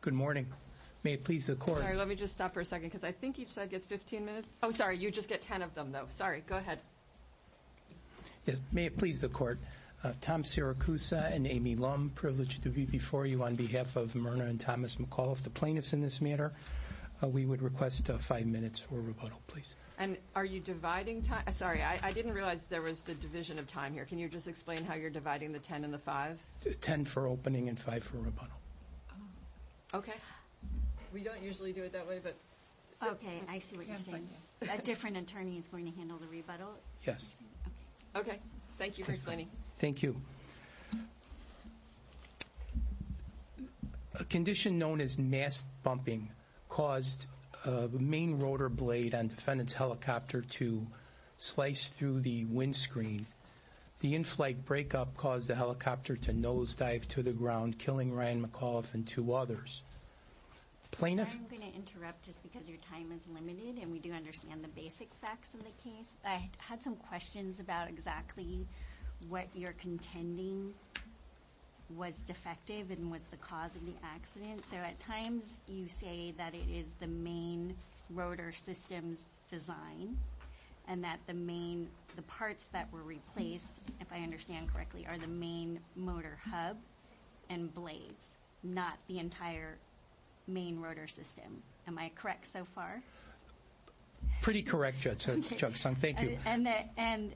Good morning. May it please the court. Sorry, let me just stop for a second, because I think each side gets 15 minutes. Oh, sorry, you just get 10 of them, though. Sorry, go ahead. May it please the court. Tom Siracusa and Amy Lum, privileged to be before you on behalf of Myrna and Thomas McAuliffe, the plaintiffs in this matter. We would request five minutes for rebuttal, please. And are you dividing time? Sorry, I didn't realize there was the division of time here. Can you just explain how you're dividing the 10 and the 5? 10 for opening and 5 for rebuttal. Okay. We don't usually do it that way, but... Okay, I see what you're saying. A different attorney is going to handle the rebuttal? Yes. Okay, thank you for explaining. Thank you. A condition known as mast bumping caused the main rotor blade on defendant's helicopter to slice through the windscreen. The in-flight breakup caused the helicopter to nosedive to the ground, killing Ryan McAuliffe and two others. I'm going to interrupt just because your time is limited, and we do understand the basic facts of the case. I had some questions about exactly what you're contending was defective and was the cause of the accident. So at times you say that it is the main rotor system's design and that the parts that were replaced, if I understand correctly, are the main motor hub and blades, not the entire main rotor system. Am I correct so far? Pretty correct, Judge Sung. Thank you. And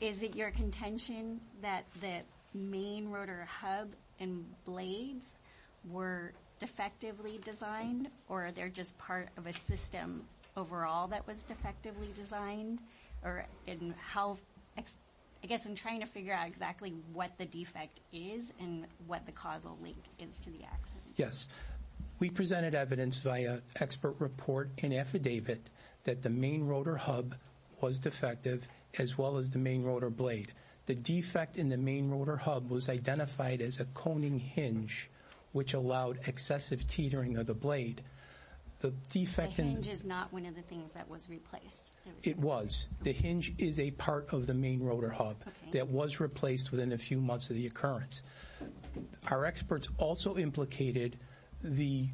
is it your contention that the main rotor hub and blades were defectively designed, or are they just part of a system overall that was defectively designed? I guess I'm trying to figure out exactly what the defect is and what the causal link is to the accident. Yes. We presented evidence via expert report and affidavit that the main rotor hub was defective as well as the main rotor blade. The defect in the main rotor hub was identified as a coning hinge, which allowed excessive teetering of the blade. The hinge is not one of the things that was replaced. It was. The hinge is a part of the main rotor hub that was replaced within a few months of the occurrence. Our experts also implicated the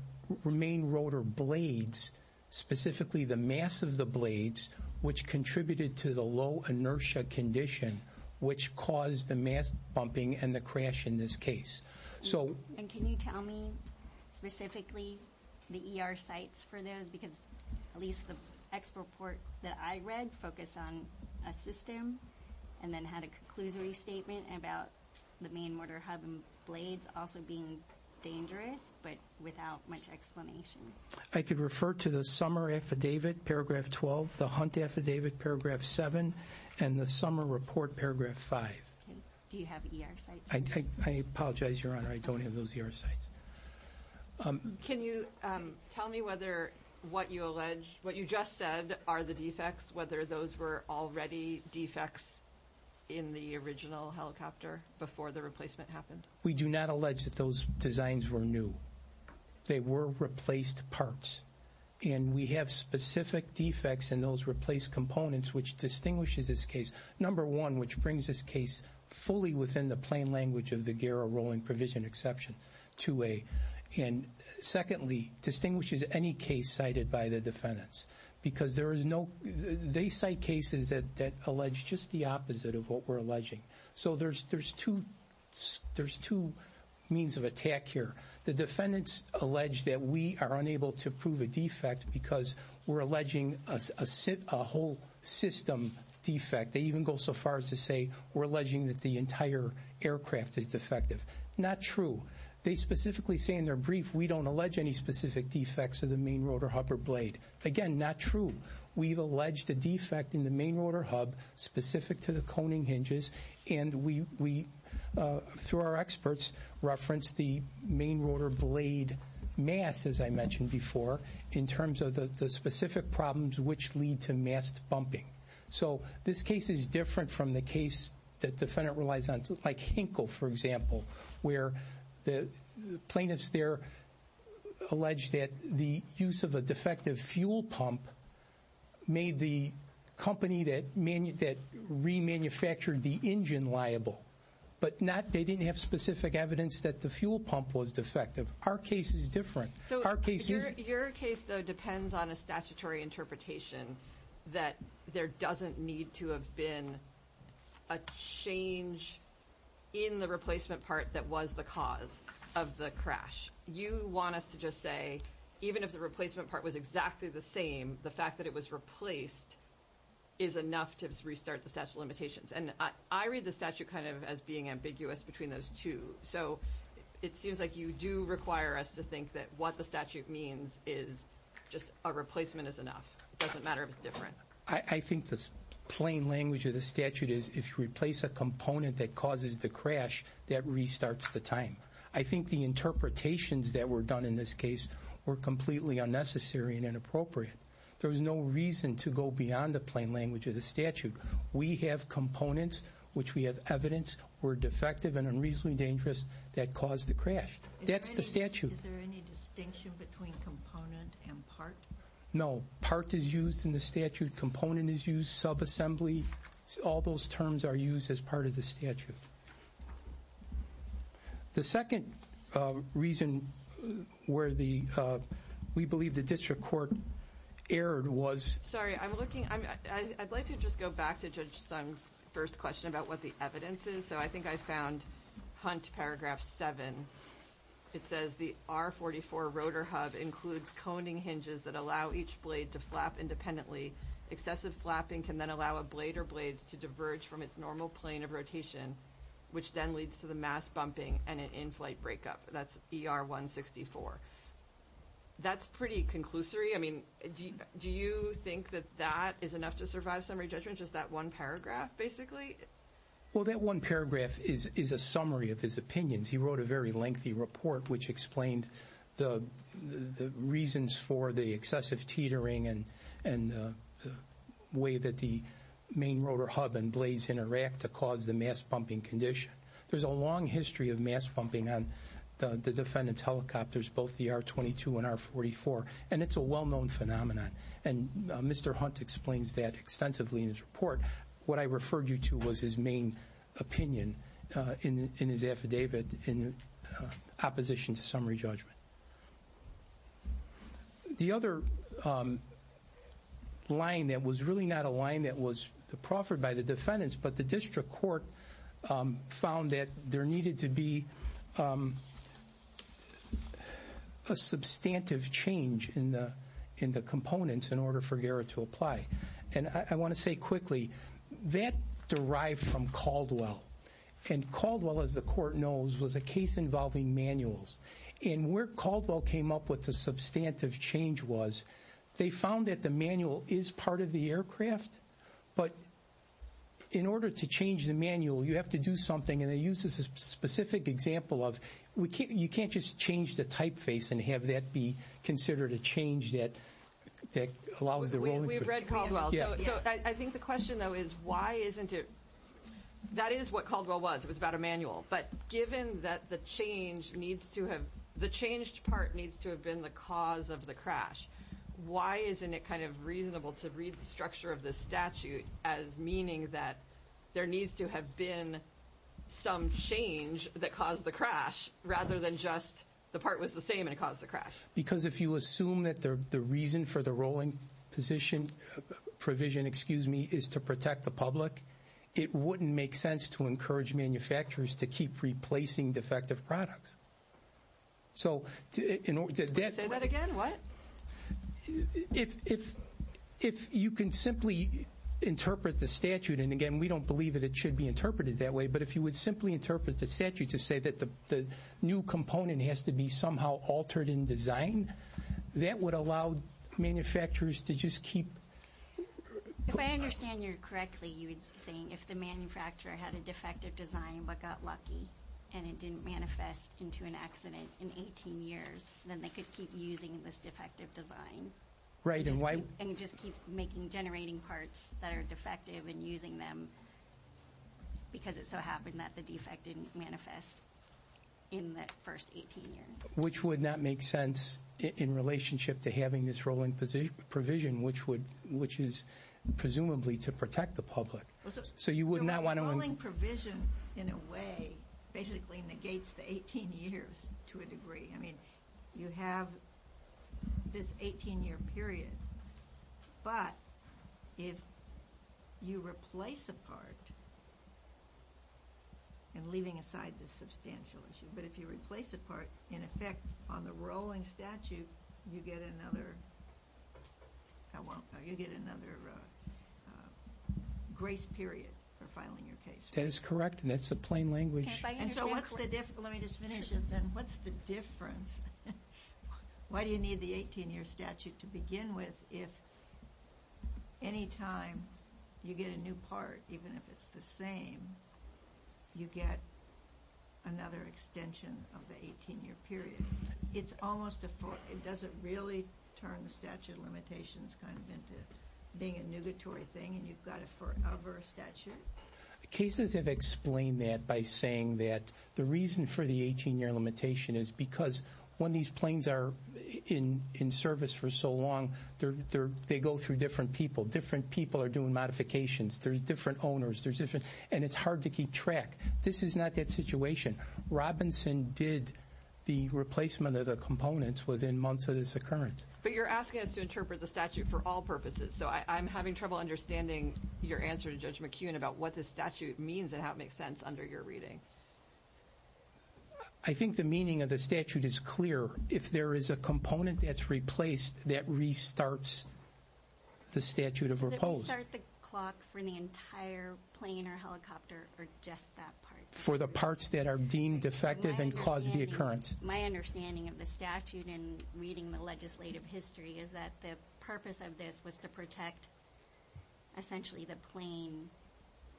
main rotor blades, specifically the mass of the blades, which contributed to the low inertia condition, which caused the mass bumping and the crash in this case. And can you tell me specifically the ER sites for those? Because at least the expert report that I read focused on a system and then had a conclusory statement about the main rotor hub and blades also being dangerous, but without much explanation. I could refer to the summer affidavit, paragraph 12, the hunt affidavit, paragraph 7, and the summer report, paragraph 5. Do you have ER sites? I apologize, Your Honor. I don't have those ER sites. Can you tell me whether what you alleged, what you just said are the defects, whether those were already defects in the original helicopter before the replacement happened? We do not allege that those designs were new. They were replaced parts, and we have specific defects in those replaced components, which distinguishes this case. Number one, which brings this case fully within the plain language of the Garrow-Rowling Provision Exception 2A. And secondly, distinguishes any case cited by the defendants, because there is no, they cite cases that allege just the opposite of what we're alleging. So there's two means of attack here. The defendants allege that we are unable to prove a defect because we're alleging a whole system defect. They even go so far as to say we're alleging that the entire aircraft is defective. Not true. They specifically say in their brief we don't allege any specific defects of the main rotor hub or blade. Again, not true. We've alleged a defect in the main rotor hub specific to the coning hinges. And we, through our experts, reference the main rotor blade mass, as I mentioned before, in terms of the specific problems which lead to mass bumping. So this case is different from the case that defendant relies on. Like Hinkle, for example, where the plaintiffs there allege that the use of a defective fuel pump made the company that remanufactured the engine liable. But not, they didn't have specific evidence that the fuel pump was defective. Our case is different. Your case, though, depends on a statutory interpretation that there doesn't need to have been a change in the replacement part that was the cause of the crash. You want us to just say even if the replacement part was exactly the same, the fact that it was replaced is enough to restart the statute of limitations. And I read the statute kind of as being ambiguous between those two. So it seems like you do require us to think that what the statute means is just a replacement is enough. It doesn't matter if it's different. I think the plain language of the statute is if you replace a component that causes the crash, that restarts the time. I think the interpretations that were done in this case were completely unnecessary and inappropriate. There was no reason to go beyond the plain language of the statute. We have components, which we have evidence were defective and unreasonably dangerous that caused the crash. That's the statute. Is there any distinction between component and part? No. Part is used in the statute. Component is used. Subassembly. All those terms are used as part of the statute. The second reason where we believe the district court erred was- Sorry, I'm looking- I'd like to just go back to Judge Sung's first question about what the evidence is. So I think I found Hunt Paragraph 7. It says the R44 rotor hub includes coning hinges that allow each blade to flap independently. Excessive flapping can then allow a blade or blades to diverge from its normal plane of rotation, which then leads to the mass bumping and an in-flight breakup. That's ER164. That's pretty conclusory. I mean, do you think that that is enough to survive summary judgment, just that one paragraph, basically? Well, that one paragraph is a summary of his opinions. He wrote a very lengthy report which explained the reasons for the excessive teetering and the way that the main rotor hub and blades interact to cause the mass bumping condition. There's a long history of mass bumping on the defendant's helicopters, both the R22 and R44, and it's a well-known phenomenon, and Mr. Hunt explains that extensively in his report. What I referred you to was his main opinion in his affidavit in opposition to summary judgment. The other line that was really not a line that was proffered by the defendants, but the district court found that there needed to be a substantive change in the components in order for GARA to apply. And I want to say quickly, that derived from Caldwell. And Caldwell, as the court knows, was a case involving manuals. And where Caldwell came up with the substantive change was they found that the manual is part of the aircraft, but in order to change the manual, you have to do something. And they use this as a specific example of you can't just change the typeface and have that be considered a change that allows the rolling. We've read Caldwell. So I think the question, though, is why isn't it that is what Caldwell was. It was about a manual. But given that the changed part needs to have been the cause of the crash, why isn't it kind of reasonable to read the structure of this statute as meaning that there needs to have been some change that caused the crash rather than just the part was the same and it caused the crash? Because if you assume that the reason for the rolling provision is to protect the public, it wouldn't make sense to encourage manufacturers to keep replacing defective products. So in order to that. Say that again, what? If you can simply interpret the statute, and again, we don't believe that it should be interpreted that way, but if you would simply interpret the statute to say that the new component has to be somehow altered in design, that would allow manufacturers to just keep. If I understand you correctly, you would be saying if the manufacturer had a defective design but got lucky and it didn't manifest into an accident in 18 years, then they could keep using this defective design. Right. And just keep making generating parts that are defective and using them because it so happened that the defect didn't manifest in the first 18 years. Which would not make sense in relationship to having this rolling provision, which is presumably to protect the public. So you would not want to- The rolling provision, in a way, basically negates the 18 years to a degree. I mean, you have this 18 year period. But if you replace a part, and leaving aside the substantial issue, but if you replace a part, in effect, on the rolling statute, you get another grace period for filing your case. That is correct, and that's the plain language. And so what's the difference? Let me just finish it then. What's the difference? Why do you need the 18 year statute to begin with if any time you get a new part, even if it's the same, you get another extension of the 18 year period? It doesn't really turn the statute of limitations kind of into being a nugatory thing and you've got a forever statute? Cases have explained that by saying that the reason for the 18 year limitation is because when these planes are in service for so long, they go through different people. Different people are doing modifications. There are different owners, and it's hard to keep track. This is not that situation. Robinson did the replacement of the components within months of this occurrence. But you're asking us to interpret the statute for all purposes, so I'm having trouble understanding your answer to Judge McKeown about what this statute means and how it makes sense under your reading. I think the meaning of the statute is clear. If there is a component that's replaced, that restarts the statute of repose. It doesn't restart the clock for the entire plane or helicopter or just that part. For the parts that are deemed defective and caused the occurrence. My understanding of the statute in reading the legislative history is that the purpose of this was to protect, essentially, the plane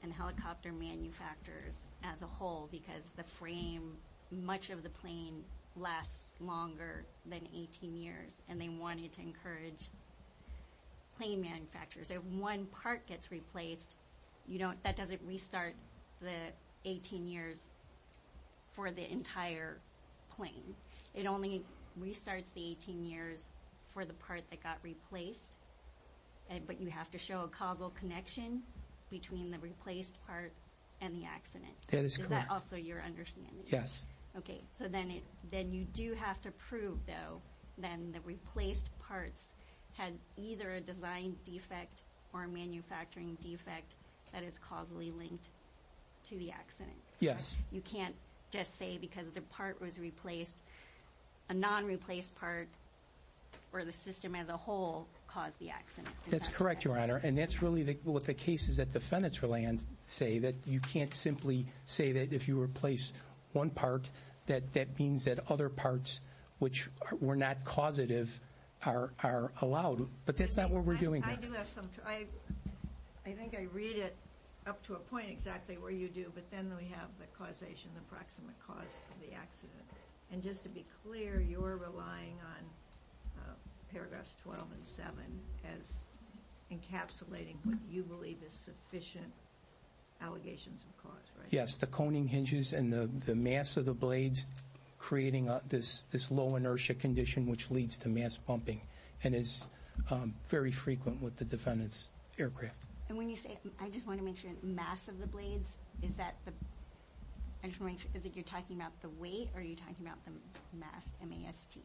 and helicopter manufacturers as a whole because the frame, much of the plane, lasts longer than 18 years, and they wanted to encourage plane manufacturers. If one part gets replaced, that doesn't restart the 18 years for the entire plane. It only restarts the 18 years for the part that got replaced, but you have to show a causal connection between the replaced part and the accident. Is that also your understanding? Yes. Okay, so then you do have to prove, though, that the replaced parts had either a design defect or a manufacturing defect that is causally linked to the accident. Yes. You can't just say because the part was replaced, a non-replaced part or the system as a whole caused the accident. That's correct, Your Honor, and that's really what the cases at the Fenestra Land say, that you can't simply say that if you replace one part, that that means that other parts which were not causative are allowed, but that's not where we're doing that. I think I read it up to a point exactly where you do, but then we have the causation, the proximate cause of the accident, and just to be clear, you're relying on paragraphs 12 and 7 as encapsulating what you believe is sufficient allegations of cause, right? Yes, the coning hinges and the mass of the blades creating this low inertia condition which leads to mass bumping and is very frequent with the defendant's aircraft. And when you say, I just want to make sure, mass of the blades, is that the, I just want to make sure, is it you're talking about the weight or are you talking about the mass, M-A-S-T?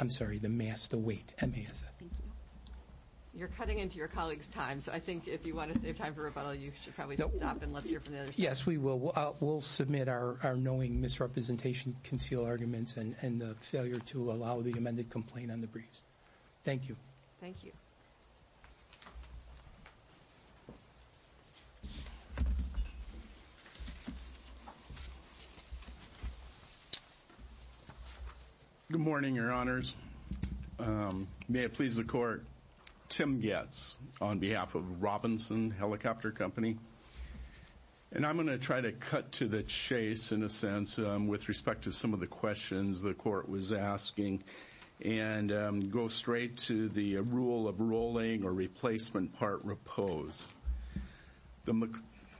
I'm sorry, the mass, the weight, M-A-S-T. Thank you. You're cutting into your colleague's time, so I think if you want to save time for rebuttal, you should probably stop and let's hear from the other side. Yes, we will. We'll submit our knowing misrepresentation, conceal arguments, and the failure to allow the amended complaint on the briefs. Thank you. Thank you. Good morning, Your Honors. May it please the Court, Tim Goetz on behalf of Robinson Helicopter Company. And I'm going to try to cut to the chase, in a sense, with respect to some of the questions the Court was asking and go straight to the rule of rolling or replacement part repose. The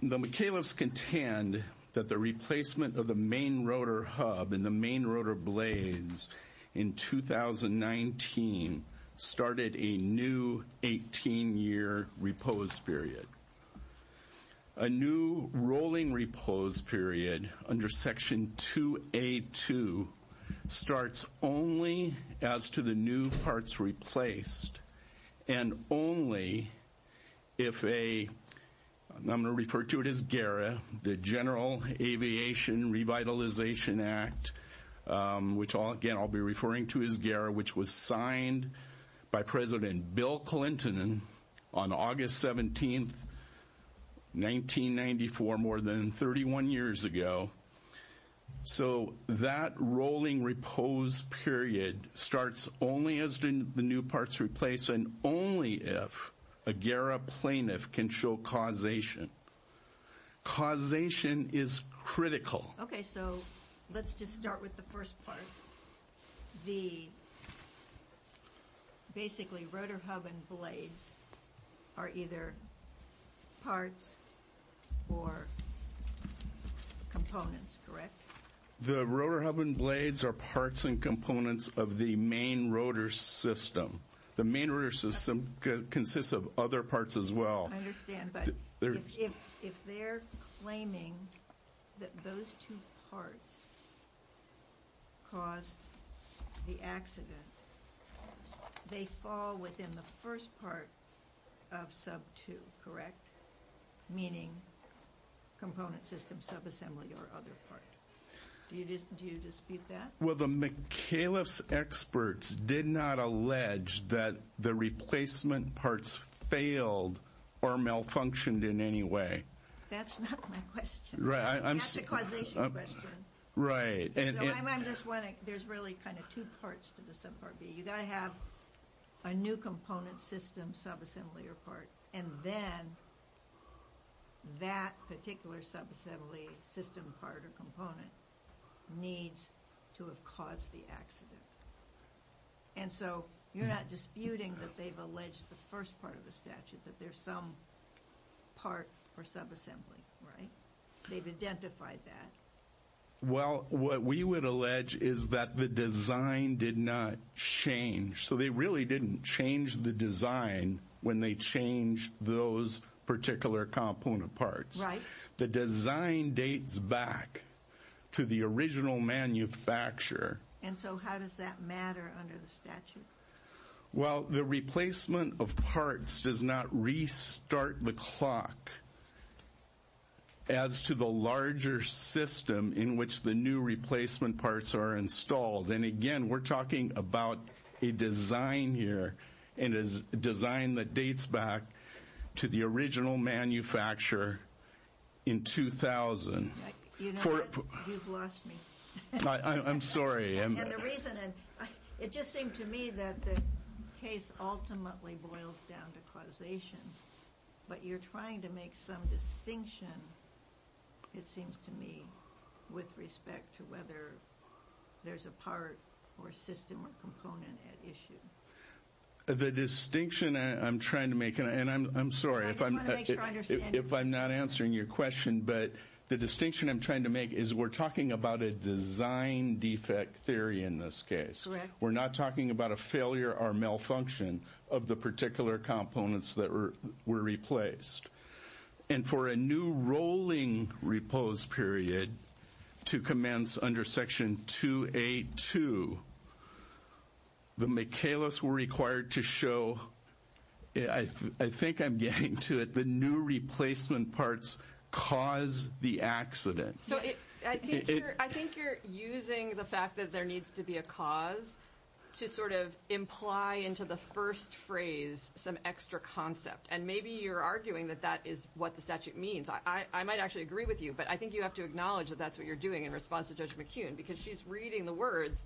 McAleves contend that the replacement of the main rotor hub and the main rotor blades in 2019 started a new 18-year repose period. A new rolling repose period under Section 2A.2 starts only as to the new parts replaced and only if a, I'm going to refer to it as GARA, the General Aviation Revitalization Act, which, again, I'll be referring to as GARA, which was signed by President Bill Clinton on August 17th, 1994, more than 31 years ago. So that rolling repose period starts only as the new parts replaced and only if a GARA plaintiff can show causation. Causation is critical. Okay, so let's just start with the first part. The, basically, rotor hub and blades are either parts or components, correct? The rotor hub and blades are parts and components of the main rotor system. The main rotor system consists of other parts as well. I understand, but if they're claiming that those two parts caused the accident, they fall within the first part of Sub 2, correct? Meaning component system subassembly or other part. Do you dispute that? Well, the McAuliffe's experts did not allege that the replacement parts failed or malfunctioned in any way. That's not my question. Right. That's the causation question. Right. I'm just wondering, there's really kind of two parts to the Subpart B. You've got to have a new component system subassembly or part, and then that particular subassembly system part or component needs to have caused the accident. And so you're not disputing that they've alleged the first part of the statute, that there's some part or subassembly, right? They've identified that. Well, what we would allege is that the design did not change. So they really didn't change the design when they changed those particular component parts. Right. The design dates back to the original manufacturer. And so how does that matter under the statute? Well, the replacement of parts does not restart the clock as to the larger system in which the new replacement parts are installed. And again, we're talking about a design here, and it's a design that dates back to the original manufacturer in 2000. You know what? You've lost me. I'm sorry. And the reason, it just seemed to me that the case ultimately boils down to causation. But you're trying to make some distinction, it seems to me, with respect to whether there's a part or system or component at issue. The distinction I'm trying to make, and I'm sorry if I'm not answering your question, but the distinction I'm trying to make is we're talking about a design defect theory in this case. We're not talking about a failure or malfunction of the particular components that were replaced. And for a new rolling repose period to commence under Section 2A.2, the Michaelis were required to show, I think I'm getting to it, the new replacement parts cause the accident. So I think you're using the fact that there needs to be a cause to sort of imply into the first phrase some extra concept. And maybe you're arguing that that is what the statute means. I might actually agree with you, but I think you have to acknowledge that that's what you're doing in response to Judge McKeon, because she's reading the words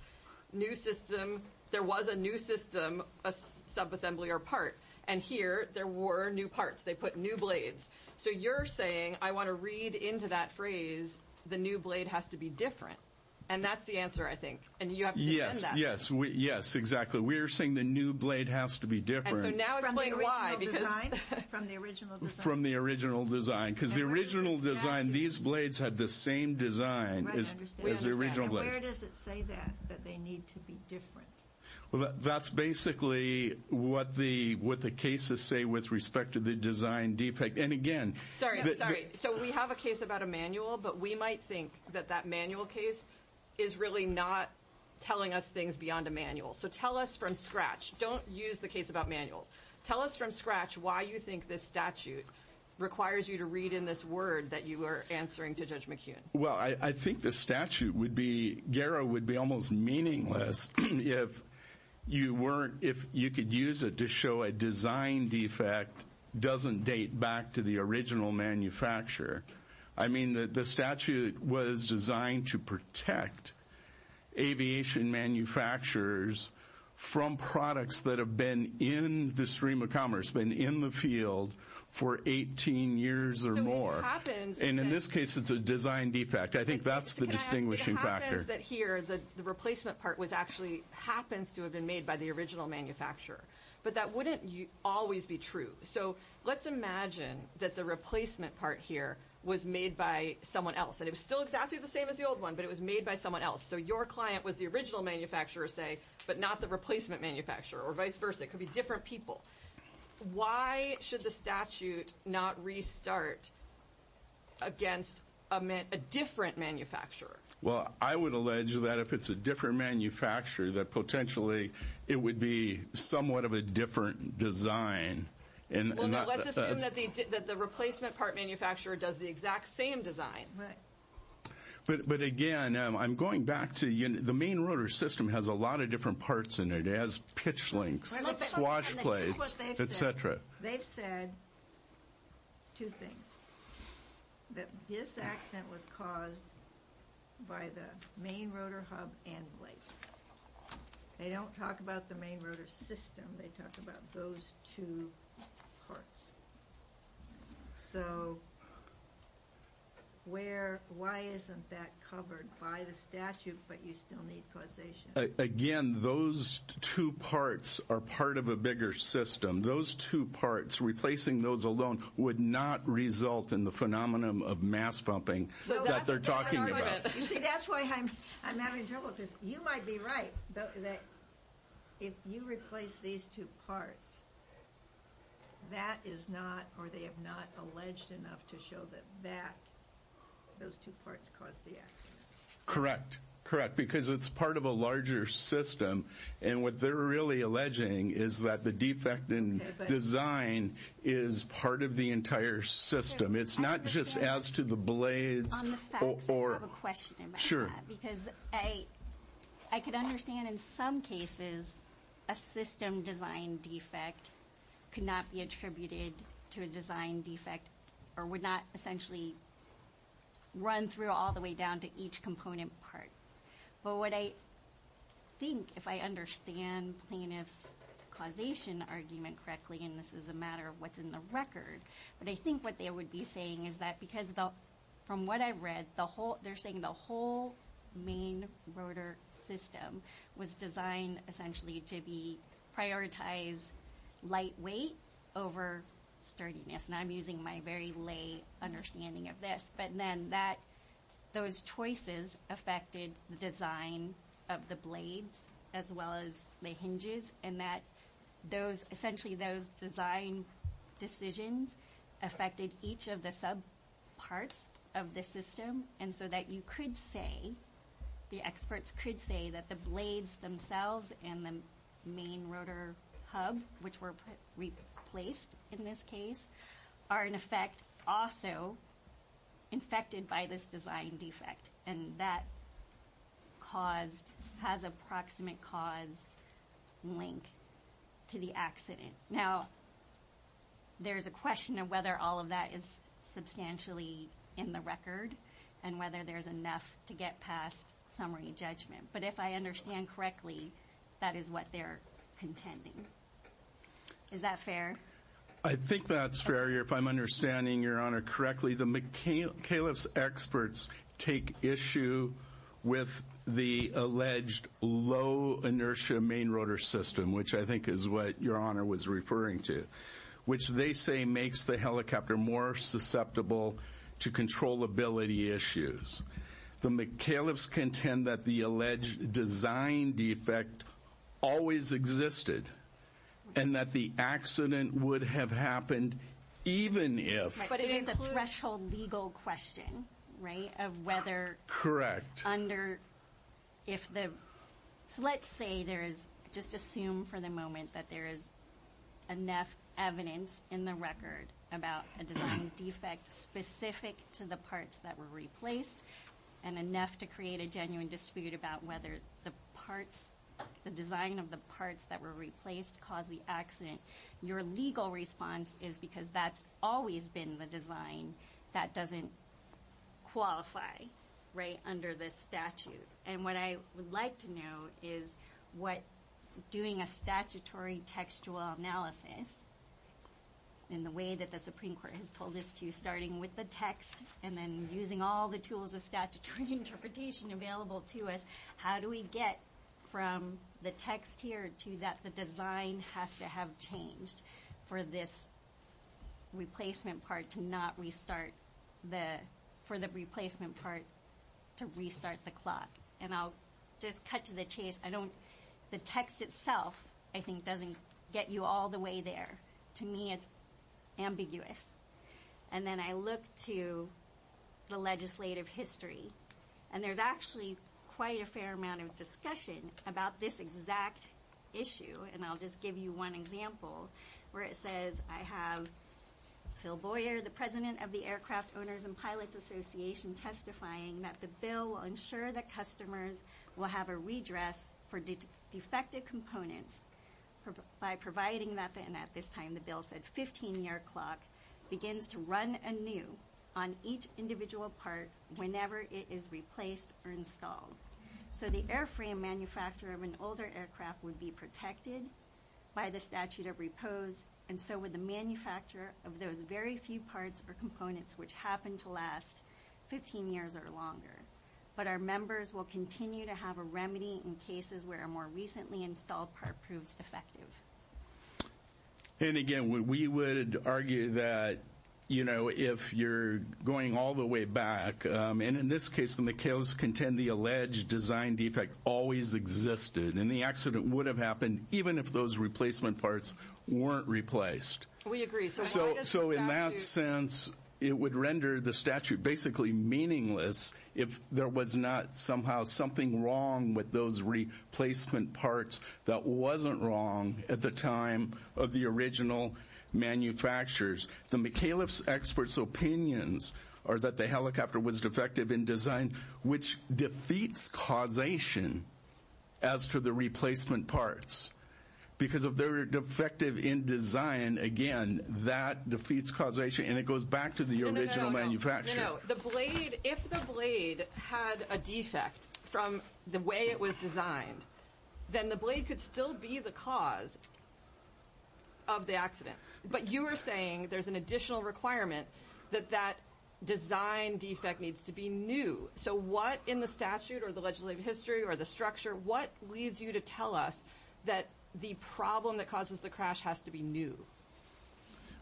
new system, there was a new system, a subassembly or part. And here there were new parts. They put new blades. So you're saying I want to read into that phrase the new blade has to be different. And that's the answer, I think. And you have to defend that. Yes, exactly. We're saying the new blade has to be different. So now explain why. From the original design? From the original design. From the original design. Because the original design, these blades had the same design as the original blades. And where does it say that, that they need to be different? Well, that's basically what the cases say with respect to the design. And again. Sorry, sorry. So we have a case about a manual, but we might think that that manual case is really not telling us things beyond a manual. So tell us from scratch. Don't use the case about manuals. Tell us from scratch why you think this statute requires you to read in this word that you are answering to Judge McKeon. Well, I think the statute would be, Gara, would be almost meaningless if you could use it to show a design defect doesn't date back to the original manufacturer. I mean, the statute was designed to protect aviation manufacturers from products that have been in the stream of commerce, been in the field for 18 years or more. And in this case, it's a design defect. I think that's the distinguishing factor. It happens that here, the replacement part was actually, happens to have been made by the original manufacturer. But that wouldn't always be true. So let's imagine that the replacement part here was made by someone else. And it was still exactly the same as the old one, but it was made by someone else. So your client was the original manufacturer, say, but not the replacement manufacturer or vice versa. It could be different people. Why should the statute not restart against a different manufacturer? Well, I would allege that if it's a different manufacturer, that potentially it would be somewhat of a different design. Well, no, let's assume that the replacement part manufacturer does the exact same design. Right. But again, I'm going back to the main rotor system has a lot of different parts in it. It has pitch links, swash plates, et cetera. They've said two things, that this accident was caused by the main rotor hub and blades. They don't talk about the main rotor system. They talk about those two parts. So why isn't that covered by the statute, but you still need causation? Again, those two parts are part of a bigger system. Those two parts, replacing those alone would not result in the phenomenon of mass pumping that they're talking about. You see, that's why I'm having trouble, because you might be right that if you replace these two parts, that is not or they have not alleged enough to show that those two parts caused the accident. Correct, correct, because it's part of a larger system. And what they're really alleging is that the defect in design is part of the entire system. It's not just as to the blades. On the facts, I have a question about that. Because I could understand in some cases a system design defect could not be attributed to a design defect or would not essentially run through all the way down to each component part. But what I think, if I understand plaintiff's causation argument correctly, and this is a matter of what's in the record, but I think what they would be saying is that because from what I read, they're saying the whole main rotor system was designed essentially to be prioritized lightweight over sturdiness. And I'm using my very lay understanding of this. But then that, those choices affected the design of the blades as well as the hinges. And that those, essentially those design decisions affected each of the sub parts of the system. And so that you could say, the experts could say that the blades themselves and the main rotor hub, which were replaced in this case, are in effect also infected by this design defect. And that caused, has a proximate cause link to the accident. Now, there's a question of whether all of that is substantially in the record and whether there's enough to get past summary judgment. But if I understand correctly, that is what they're contending. Is that fair? I think that's fair, if I'm understanding your honor correctly. The McCaliff's experts take issue with the alleged low inertia main rotor system, which I think is what your honor was referring to, which they say makes the helicopter more susceptible to controllability issues. The McCaliff's contend that the alleged design defect always existed. And that the accident would have happened even if. But it is a threshold legal question, right? Of whether. Correct. Under, if the, so let's say there is, just assume for the moment that there is enough evidence in the record about a design defect specific to the parts that were replaced. And enough to create a genuine dispute about whether the parts, the design of the parts that were replaced caused the accident. Your legal response is because that's always been the design that doesn't qualify, right? Under this statute. And what I would like to know is what doing a statutory textual analysis in the way that the Supreme Court has told us to starting with the text and then using all the tools of statutory interpretation available to us. How do we get from the text here to that the design has to have changed for this replacement part to not restart the, for the replacement part to restart the clock. And I'll just cut to the chase. I don't, the text itself I think doesn't get you all the way there. To me it's ambiguous. And then I look to the legislative history. And there's actually quite a fair amount of discussion about this exact issue. And I'll just give you one example where it says I have Phil Boyer, the President of the Aircraft Owners and Pilots Association, testifying that the bill will ensure that customers will have a redress for defective components by providing that, and at this time the bill said, 15-year clock begins to run anew on each individual part whenever it is replaced or installed. So the airframe manufacturer of an older aircraft would be protected by the statute of repose. And so would the manufacturer of those very few parts or components which happen to last 15 years or longer. But our members will continue to have a remedy in cases where a more recently installed part proves defective. And again, we would argue that, you know, if you're going all the way back, and in this case the McHale's contend the alleged design defect always existed, and the accident would have happened even if those replacement parts weren't replaced. We agree. So in that sense, it would render the statute basically meaningless if there was not somehow something wrong with those replacement parts that wasn't wrong at the time of the original manufacturers. The McHale's experts' opinions are that the helicopter was defective in design, which defeats causation as to the replacement parts. Because if they're defective in design, again, that defeats causation, and it goes back to the original manufacturer. No, no, no. The blade, if the blade had a defect from the way it was designed, then the blade could still be the cause of the accident. But you are saying there's an additional requirement that that design defect needs to be new. So what in the statute or the legislative history or the structure, what leads you to tell us that the problem that causes the crash has to be new?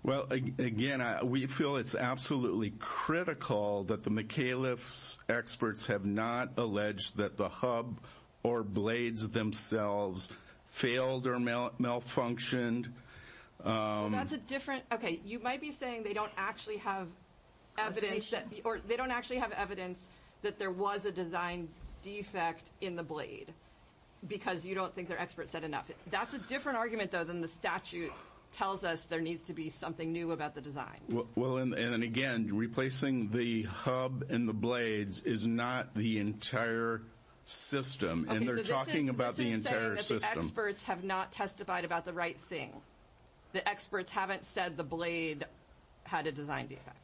Well, again, we feel it's absolutely critical that the McHale's experts have not alleged that the hub or blades themselves failed or malfunctioned. Well, that's a different – okay, you might be saying they don't actually have evidence or they don't actually have evidence that there was a design defect in the blade because you don't think their experts said enough. That's a different argument, though, than the statute tells us there needs to be something new about the design. Well, and again, replacing the hub and the blades is not the entire system, and they're talking about the entire system. Okay, so this is saying that the experts have not testified about the right thing. The experts haven't said the blade had a design defect.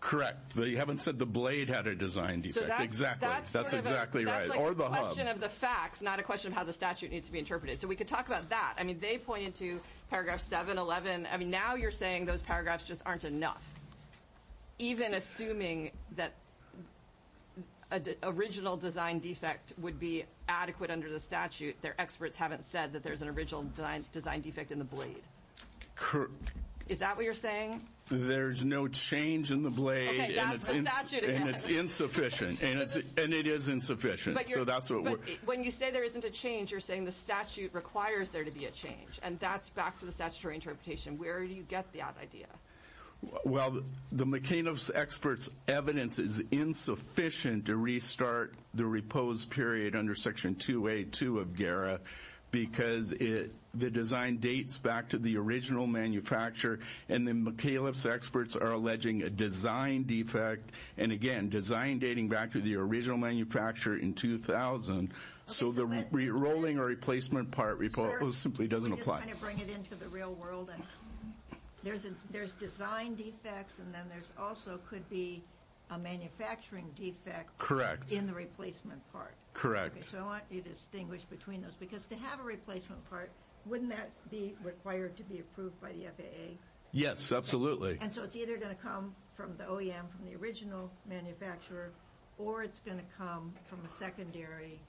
Correct. They haven't said the blade had a design defect. Exactly. That's exactly right. That's like a question of the facts, not a question of how the statute needs to be interpreted. So we could talk about that. I mean, they pointed to paragraph 711. I mean, now you're saying those paragraphs just aren't enough. Even assuming that an original design defect would be adequate under the statute, their experts haven't said that there's an original design defect in the blade. Is that what you're saying? There's no change in the blade, and it's insufficient, and it is insufficient. But when you say there isn't a change, you're saying the statute requires there to be a change, and that's back to the statutory interpretation. Where do you get that idea? Well, the McAlef's experts' evidence is insufficient to restart the repose period under Section 2A2 of GERA because the design dates back to the original manufacture, and the McAlef's experts are alleging a design defect, and, again, design dating back to the original manufacture in 2000. So the rerolling or replacement part report simply doesn't apply. Just kind of bring it into the real world. There's design defects, and then there also could be a manufacturing defect in the replacement part. So I want you to distinguish between those because to have a replacement part, wouldn't that be required to be approved by the FAA? Yes, absolutely. And so it's either going to come from the OEM, from the original manufacturer, or it's going to come from a secondary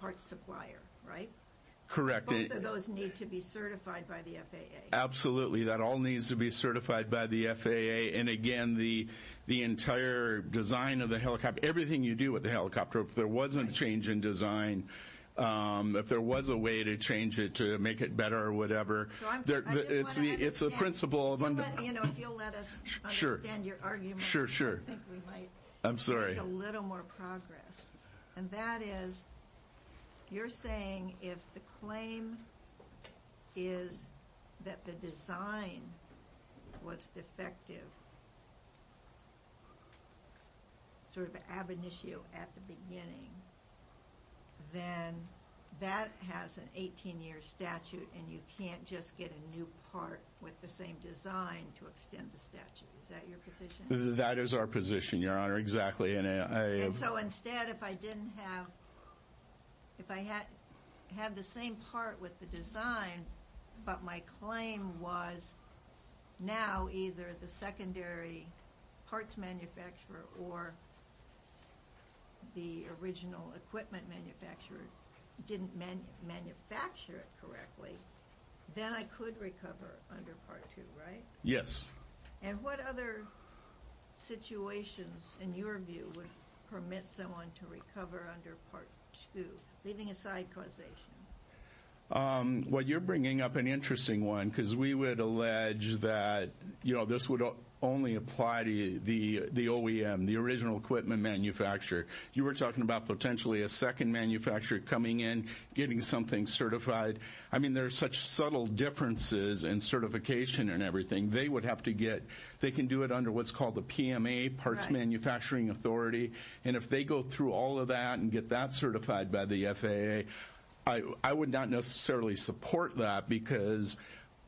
part supplier, right? Correct. Both of those need to be certified by the FAA. Absolutely. That all needs to be certified by the FAA. And, again, the entire design of the helicopter, everything you do with the helicopter, if there wasn't a change in design, if there was a way to change it to make it better or whatever, it's the principle of under- You know, if you'll let us understand your argument, I think we might make a little more progress. And that is, you're saying if the claim is that the design was defective, sort of an ab initio at the beginning, then that has an 18-year statute, and you can't just get a new part with the same design to extend the statute. Is that your position? That is our position, Your Honor. Exactly. And so, instead, if I didn't have, if I had the same part with the design, but my claim was now either the secondary parts manufacturer or the original equipment manufacturer didn't manufacture it correctly, then I could recover under Part 2, right? Yes. And what other situations, in your view, would permit someone to recover under Part 2, leaving aside causation? Well, you're bringing up an interesting one, because we would allege that, you know, this would only apply to the OEM, the original equipment manufacturer. You were talking about potentially a second manufacturer coming in, getting something certified. I mean, there are such subtle differences in certification and everything. They would have to get, they can do it under what's called the PMA, Parts Manufacturing Authority. And if they go through all of that and get that certified by the FAA, I would not necessarily support that, because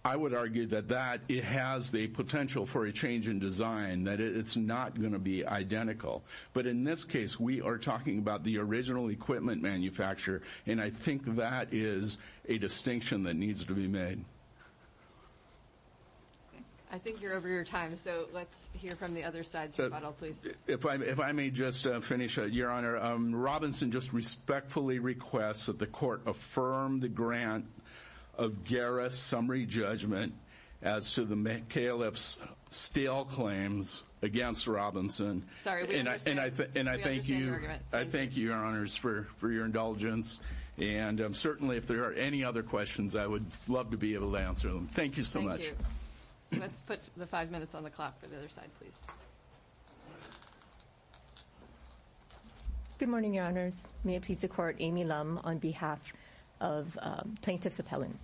I would argue that that, it has the potential for a change in design, that it's not going to be identical. But in this case, we are talking about the original equipment manufacturer, and I think that is a distinction that needs to be made. Okay. I think you're over your time, so let's hear from the other side, sir. If I may just finish, Your Honor. Your Honor, Robinson just respectfully requests that the court affirm the grant of Gara's summary judgment as to the Califf's stale claims against Robinson. Sorry, we understand your argument. And I thank you, Your Honors, for your indulgence. And certainly if there are any other questions, I would love to be able to answer them. Thank you so much. Let's put the five minutes on the clock for the other side, please. Good morning, Your Honors. May it please the Court, Amy Lum on behalf of Plaintiffs Appellant.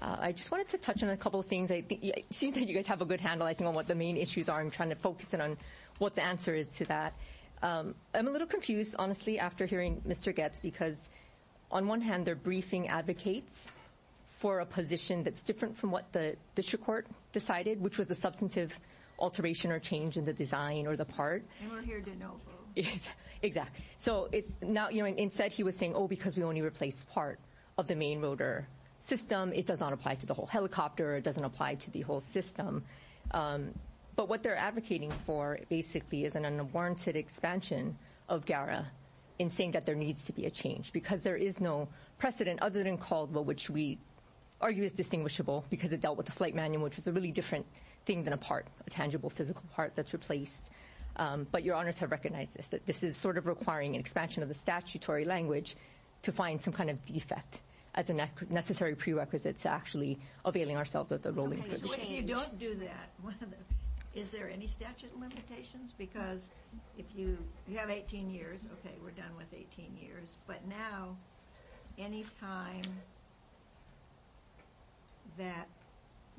I just wanted to touch on a couple of things. It seems like you guys have a good handle, I think, on what the main issues are. I'm trying to focus in on what the answer is to that. I'm a little confused, honestly, after hearing Mr. Goetz, because on one hand they're briefing advocates for a position that's different from what the district court decided, which was a substantive alteration or change in the design or the part. And we're here to know. Exactly. So instead he was saying, oh, because we only replaced part of the main rotor system, it does not apply to the whole helicopter, it doesn't apply to the whole system. But what they're advocating for basically is an unwarranted expansion of Gara in saying that there needs to be a change, because there is no precedent other than Caldwell, which we argue is distinguishable because it dealt with the flight manual, which was a really different thing than a part, a tangible physical part that's replaced. But Your Honors have recognized this, that this is sort of requiring an expansion of the statutory language to find some kind of defect as a necessary prerequisite to actually availing ourselves of the rolling change. So if you don't do that, is there any statute limitations? Because if you have 18 years, okay, we're done with 18 years. But now, any time that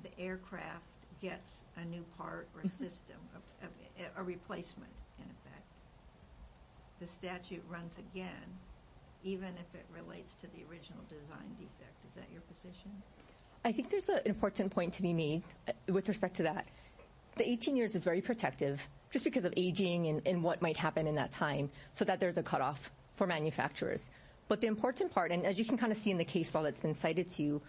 the aircraft gets a new part or a system, a replacement in effect, the statute runs again, even if it relates to the original design defect. Is that your position? I think there's an important point to be made with respect to that. The 18 years is very protective, just because of aging and what might happen in that time, so that there's a cutoff for manufacturers. But the important part, and as you can kind of see in the case file that's been cited to you,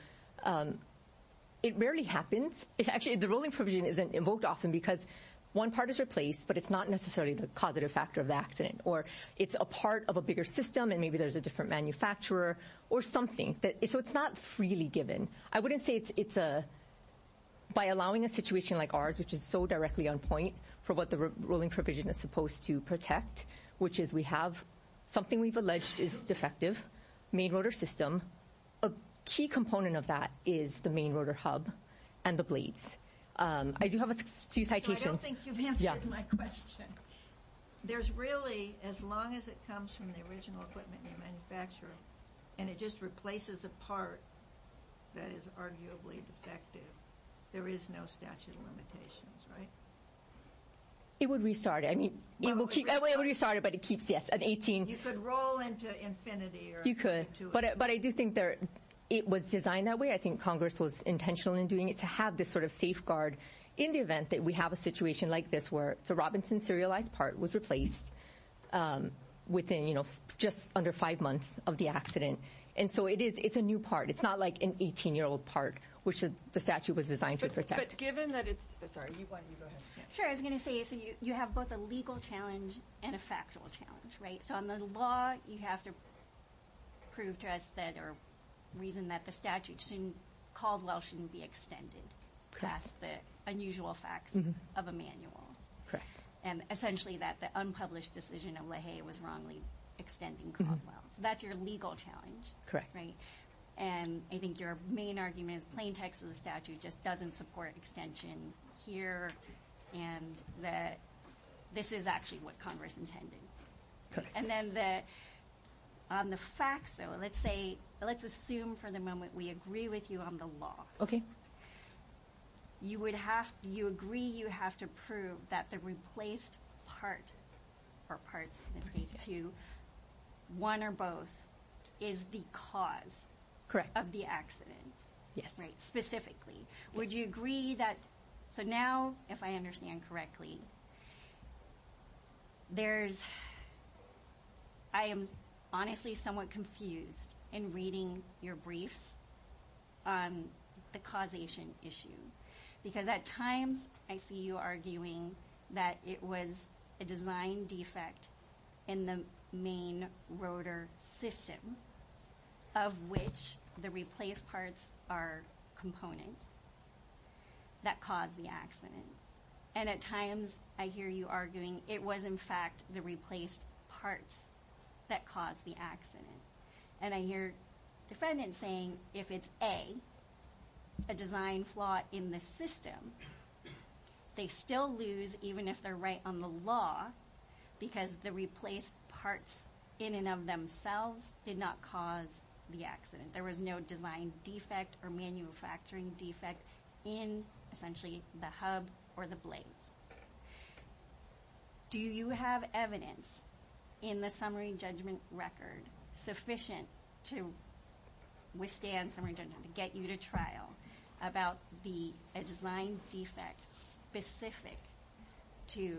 it rarely happens. Actually, the rolling provision isn't invoked often because one part is replaced, but it's not necessarily the causative factor of the accident. Or it's a part of a bigger system, and maybe there's a different manufacturer or something. So it's not freely given. I wouldn't say it's by allowing a situation like ours, which is so directly on point, for what the rolling provision is supposed to protect, which is we have something we've alleged is defective, main rotor system. A key component of that is the main rotor hub and the blades. I do have a few citations. I don't think you've answered my question. There's really, as long as it comes from the original equipment manufacturer, and it just replaces a part that is arguably defective, there is no statute of limitations, right? It would restart it. I mean, it would restart it, but it keeps an 18. You could roll into infinity. You could. But I do think it was designed that way. I think Congress was intentional in doing it to have this sort of safeguard in the event that we have a situation like this, where the Robinson serialized part was replaced within just under five months of the accident. And so it's a new part. It's not like an 18-year-old part, which the statute was designed to protect. But given that it's – sorry, why don't you go ahead. Sure. I was going to say, so you have both a legal challenge and a factual challenge, right? So on the law, you have to prove to us that or reason that the statute called well shouldn't be extended past the unusual facts of a manual. And essentially that the unpublished decision of Leahy was wrongly extending called well. So that's your legal challenge, right? And I think your main argument is plain text of the statute just doesn't support extension here and that this is actually what Congress intended. Correct. And then the – on the facts, though, let's say – let's assume for the moment we agree with you on the law. Okay. You would have – you agree you have to prove that the replaced part or parts, in this case two, one or both, is the cause of the accident. Correct. Yes. Right, specifically. Would you agree that – so now, if I understand correctly, there's – I am honestly somewhat confused in reading your briefs on the causation issue. Because at times I see you arguing that it was a design defect in the main rotor system of which the replaced parts are components that caused the accident. And at times I hear you arguing it was, in fact, the replaced parts that caused the accident. And I hear defendants saying if it's, A, a design flaw in the system, they still lose even if they're right on the law because the replaced parts in and of themselves did not cause the accident. There was no design defect or manufacturing defect in, essentially, the hub or the blades. Do you have evidence in the summary judgment record sufficient to withstand summary judgment, to get you to trial about the – a design defect specific to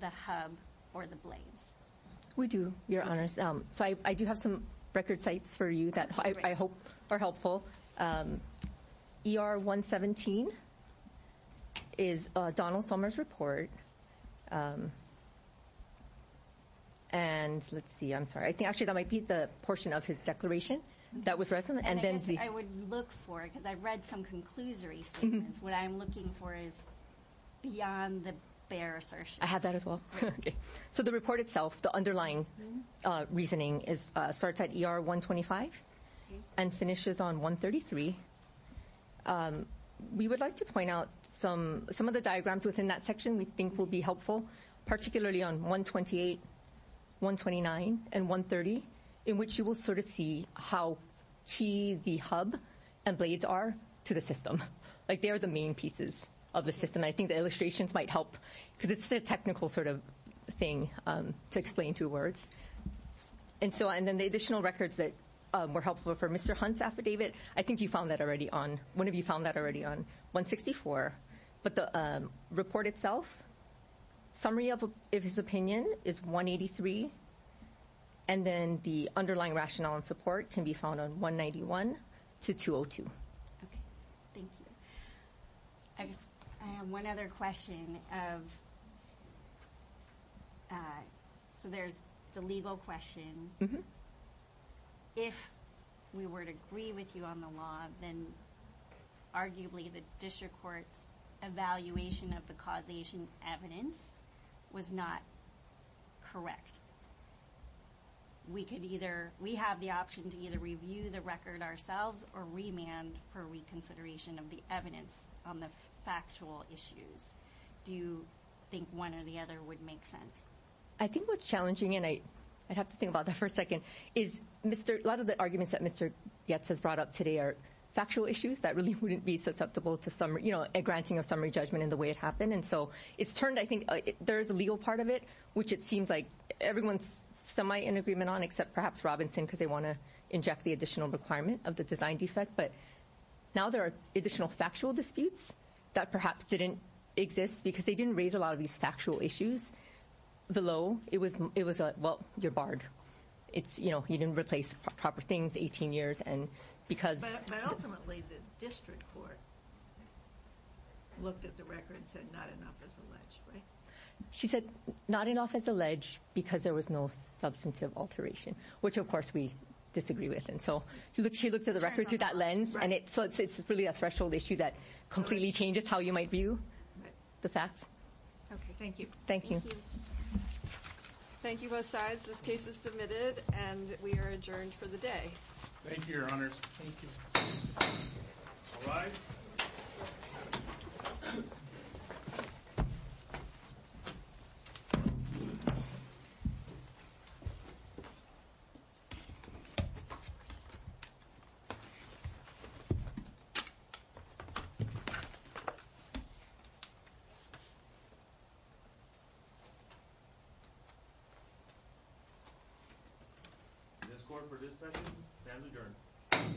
the hub or the blades? We do, Your Honors. So I do have some record sites for you that I hope are helpful. ER 117 is Donald Sommer's report. And let's see. I'm sorry. I think, actually, that might be the portion of his declaration that was read. I would look for it because I read some conclusory statements. What I'm looking for is beyond the bare assertion. I have that as well. Okay. So the report itself, the underlying reasoning, starts at ER 125 and finishes on 133. We would like to point out some of the diagrams within that section we think will be helpful, particularly on 128, 129, and 130, in which you will sort of see how key the hub and blades are to the system. Like, they are the main pieces of the system. And I think the illustrations might help because it's a technical sort of thing to explain through words. And then the additional records that were helpful for Mr. Hunt's affidavit, I think you found that already on – one of you found that already on 164. But the report itself, summary of his opinion is 183. And then the underlying rationale and support can be found on 191 to 202. Okay. Thank you. I just – I have one other question of – so there's the legal question. If we were to agree with you on the law, then arguably the district court's evaluation of the causation evidence was not correct. We could either – we have the option to either review the record ourselves or remand for reconsideration of the evidence on the factual issues. Do you think one or the other would make sense? I think what's challenging, and I'd have to think about that for a second, is a lot of the arguments that Mr. Goetz has brought up today are factual issues that really wouldn't be susceptible to a granting of summary judgment in the way it happened. And so it's turned – I think there is a legal part of it, which it seems like everyone's semi-in agreement on, except perhaps Robinson, because they want to inject the additional requirement of the design defect. But now there are additional factual disputes that perhaps didn't exist because they didn't raise a lot of these factual issues. The law, it was – well, you're barred. It's, you know, you didn't replace proper things 18 years, and because – But ultimately the district court looked at the record and said not enough is alleged, right? She said not enough is alleged because there was no substantive alteration, which of course we disagree with. And so she looked at the record through that lens, and so it's really a threshold issue that completely changes how you might view the facts. Okay, thank you. Thank you both sides. This case is submitted, and we are adjourned for the day. Thank you, Your Honors. Thank you. All rise. This court for this session stands adjourned.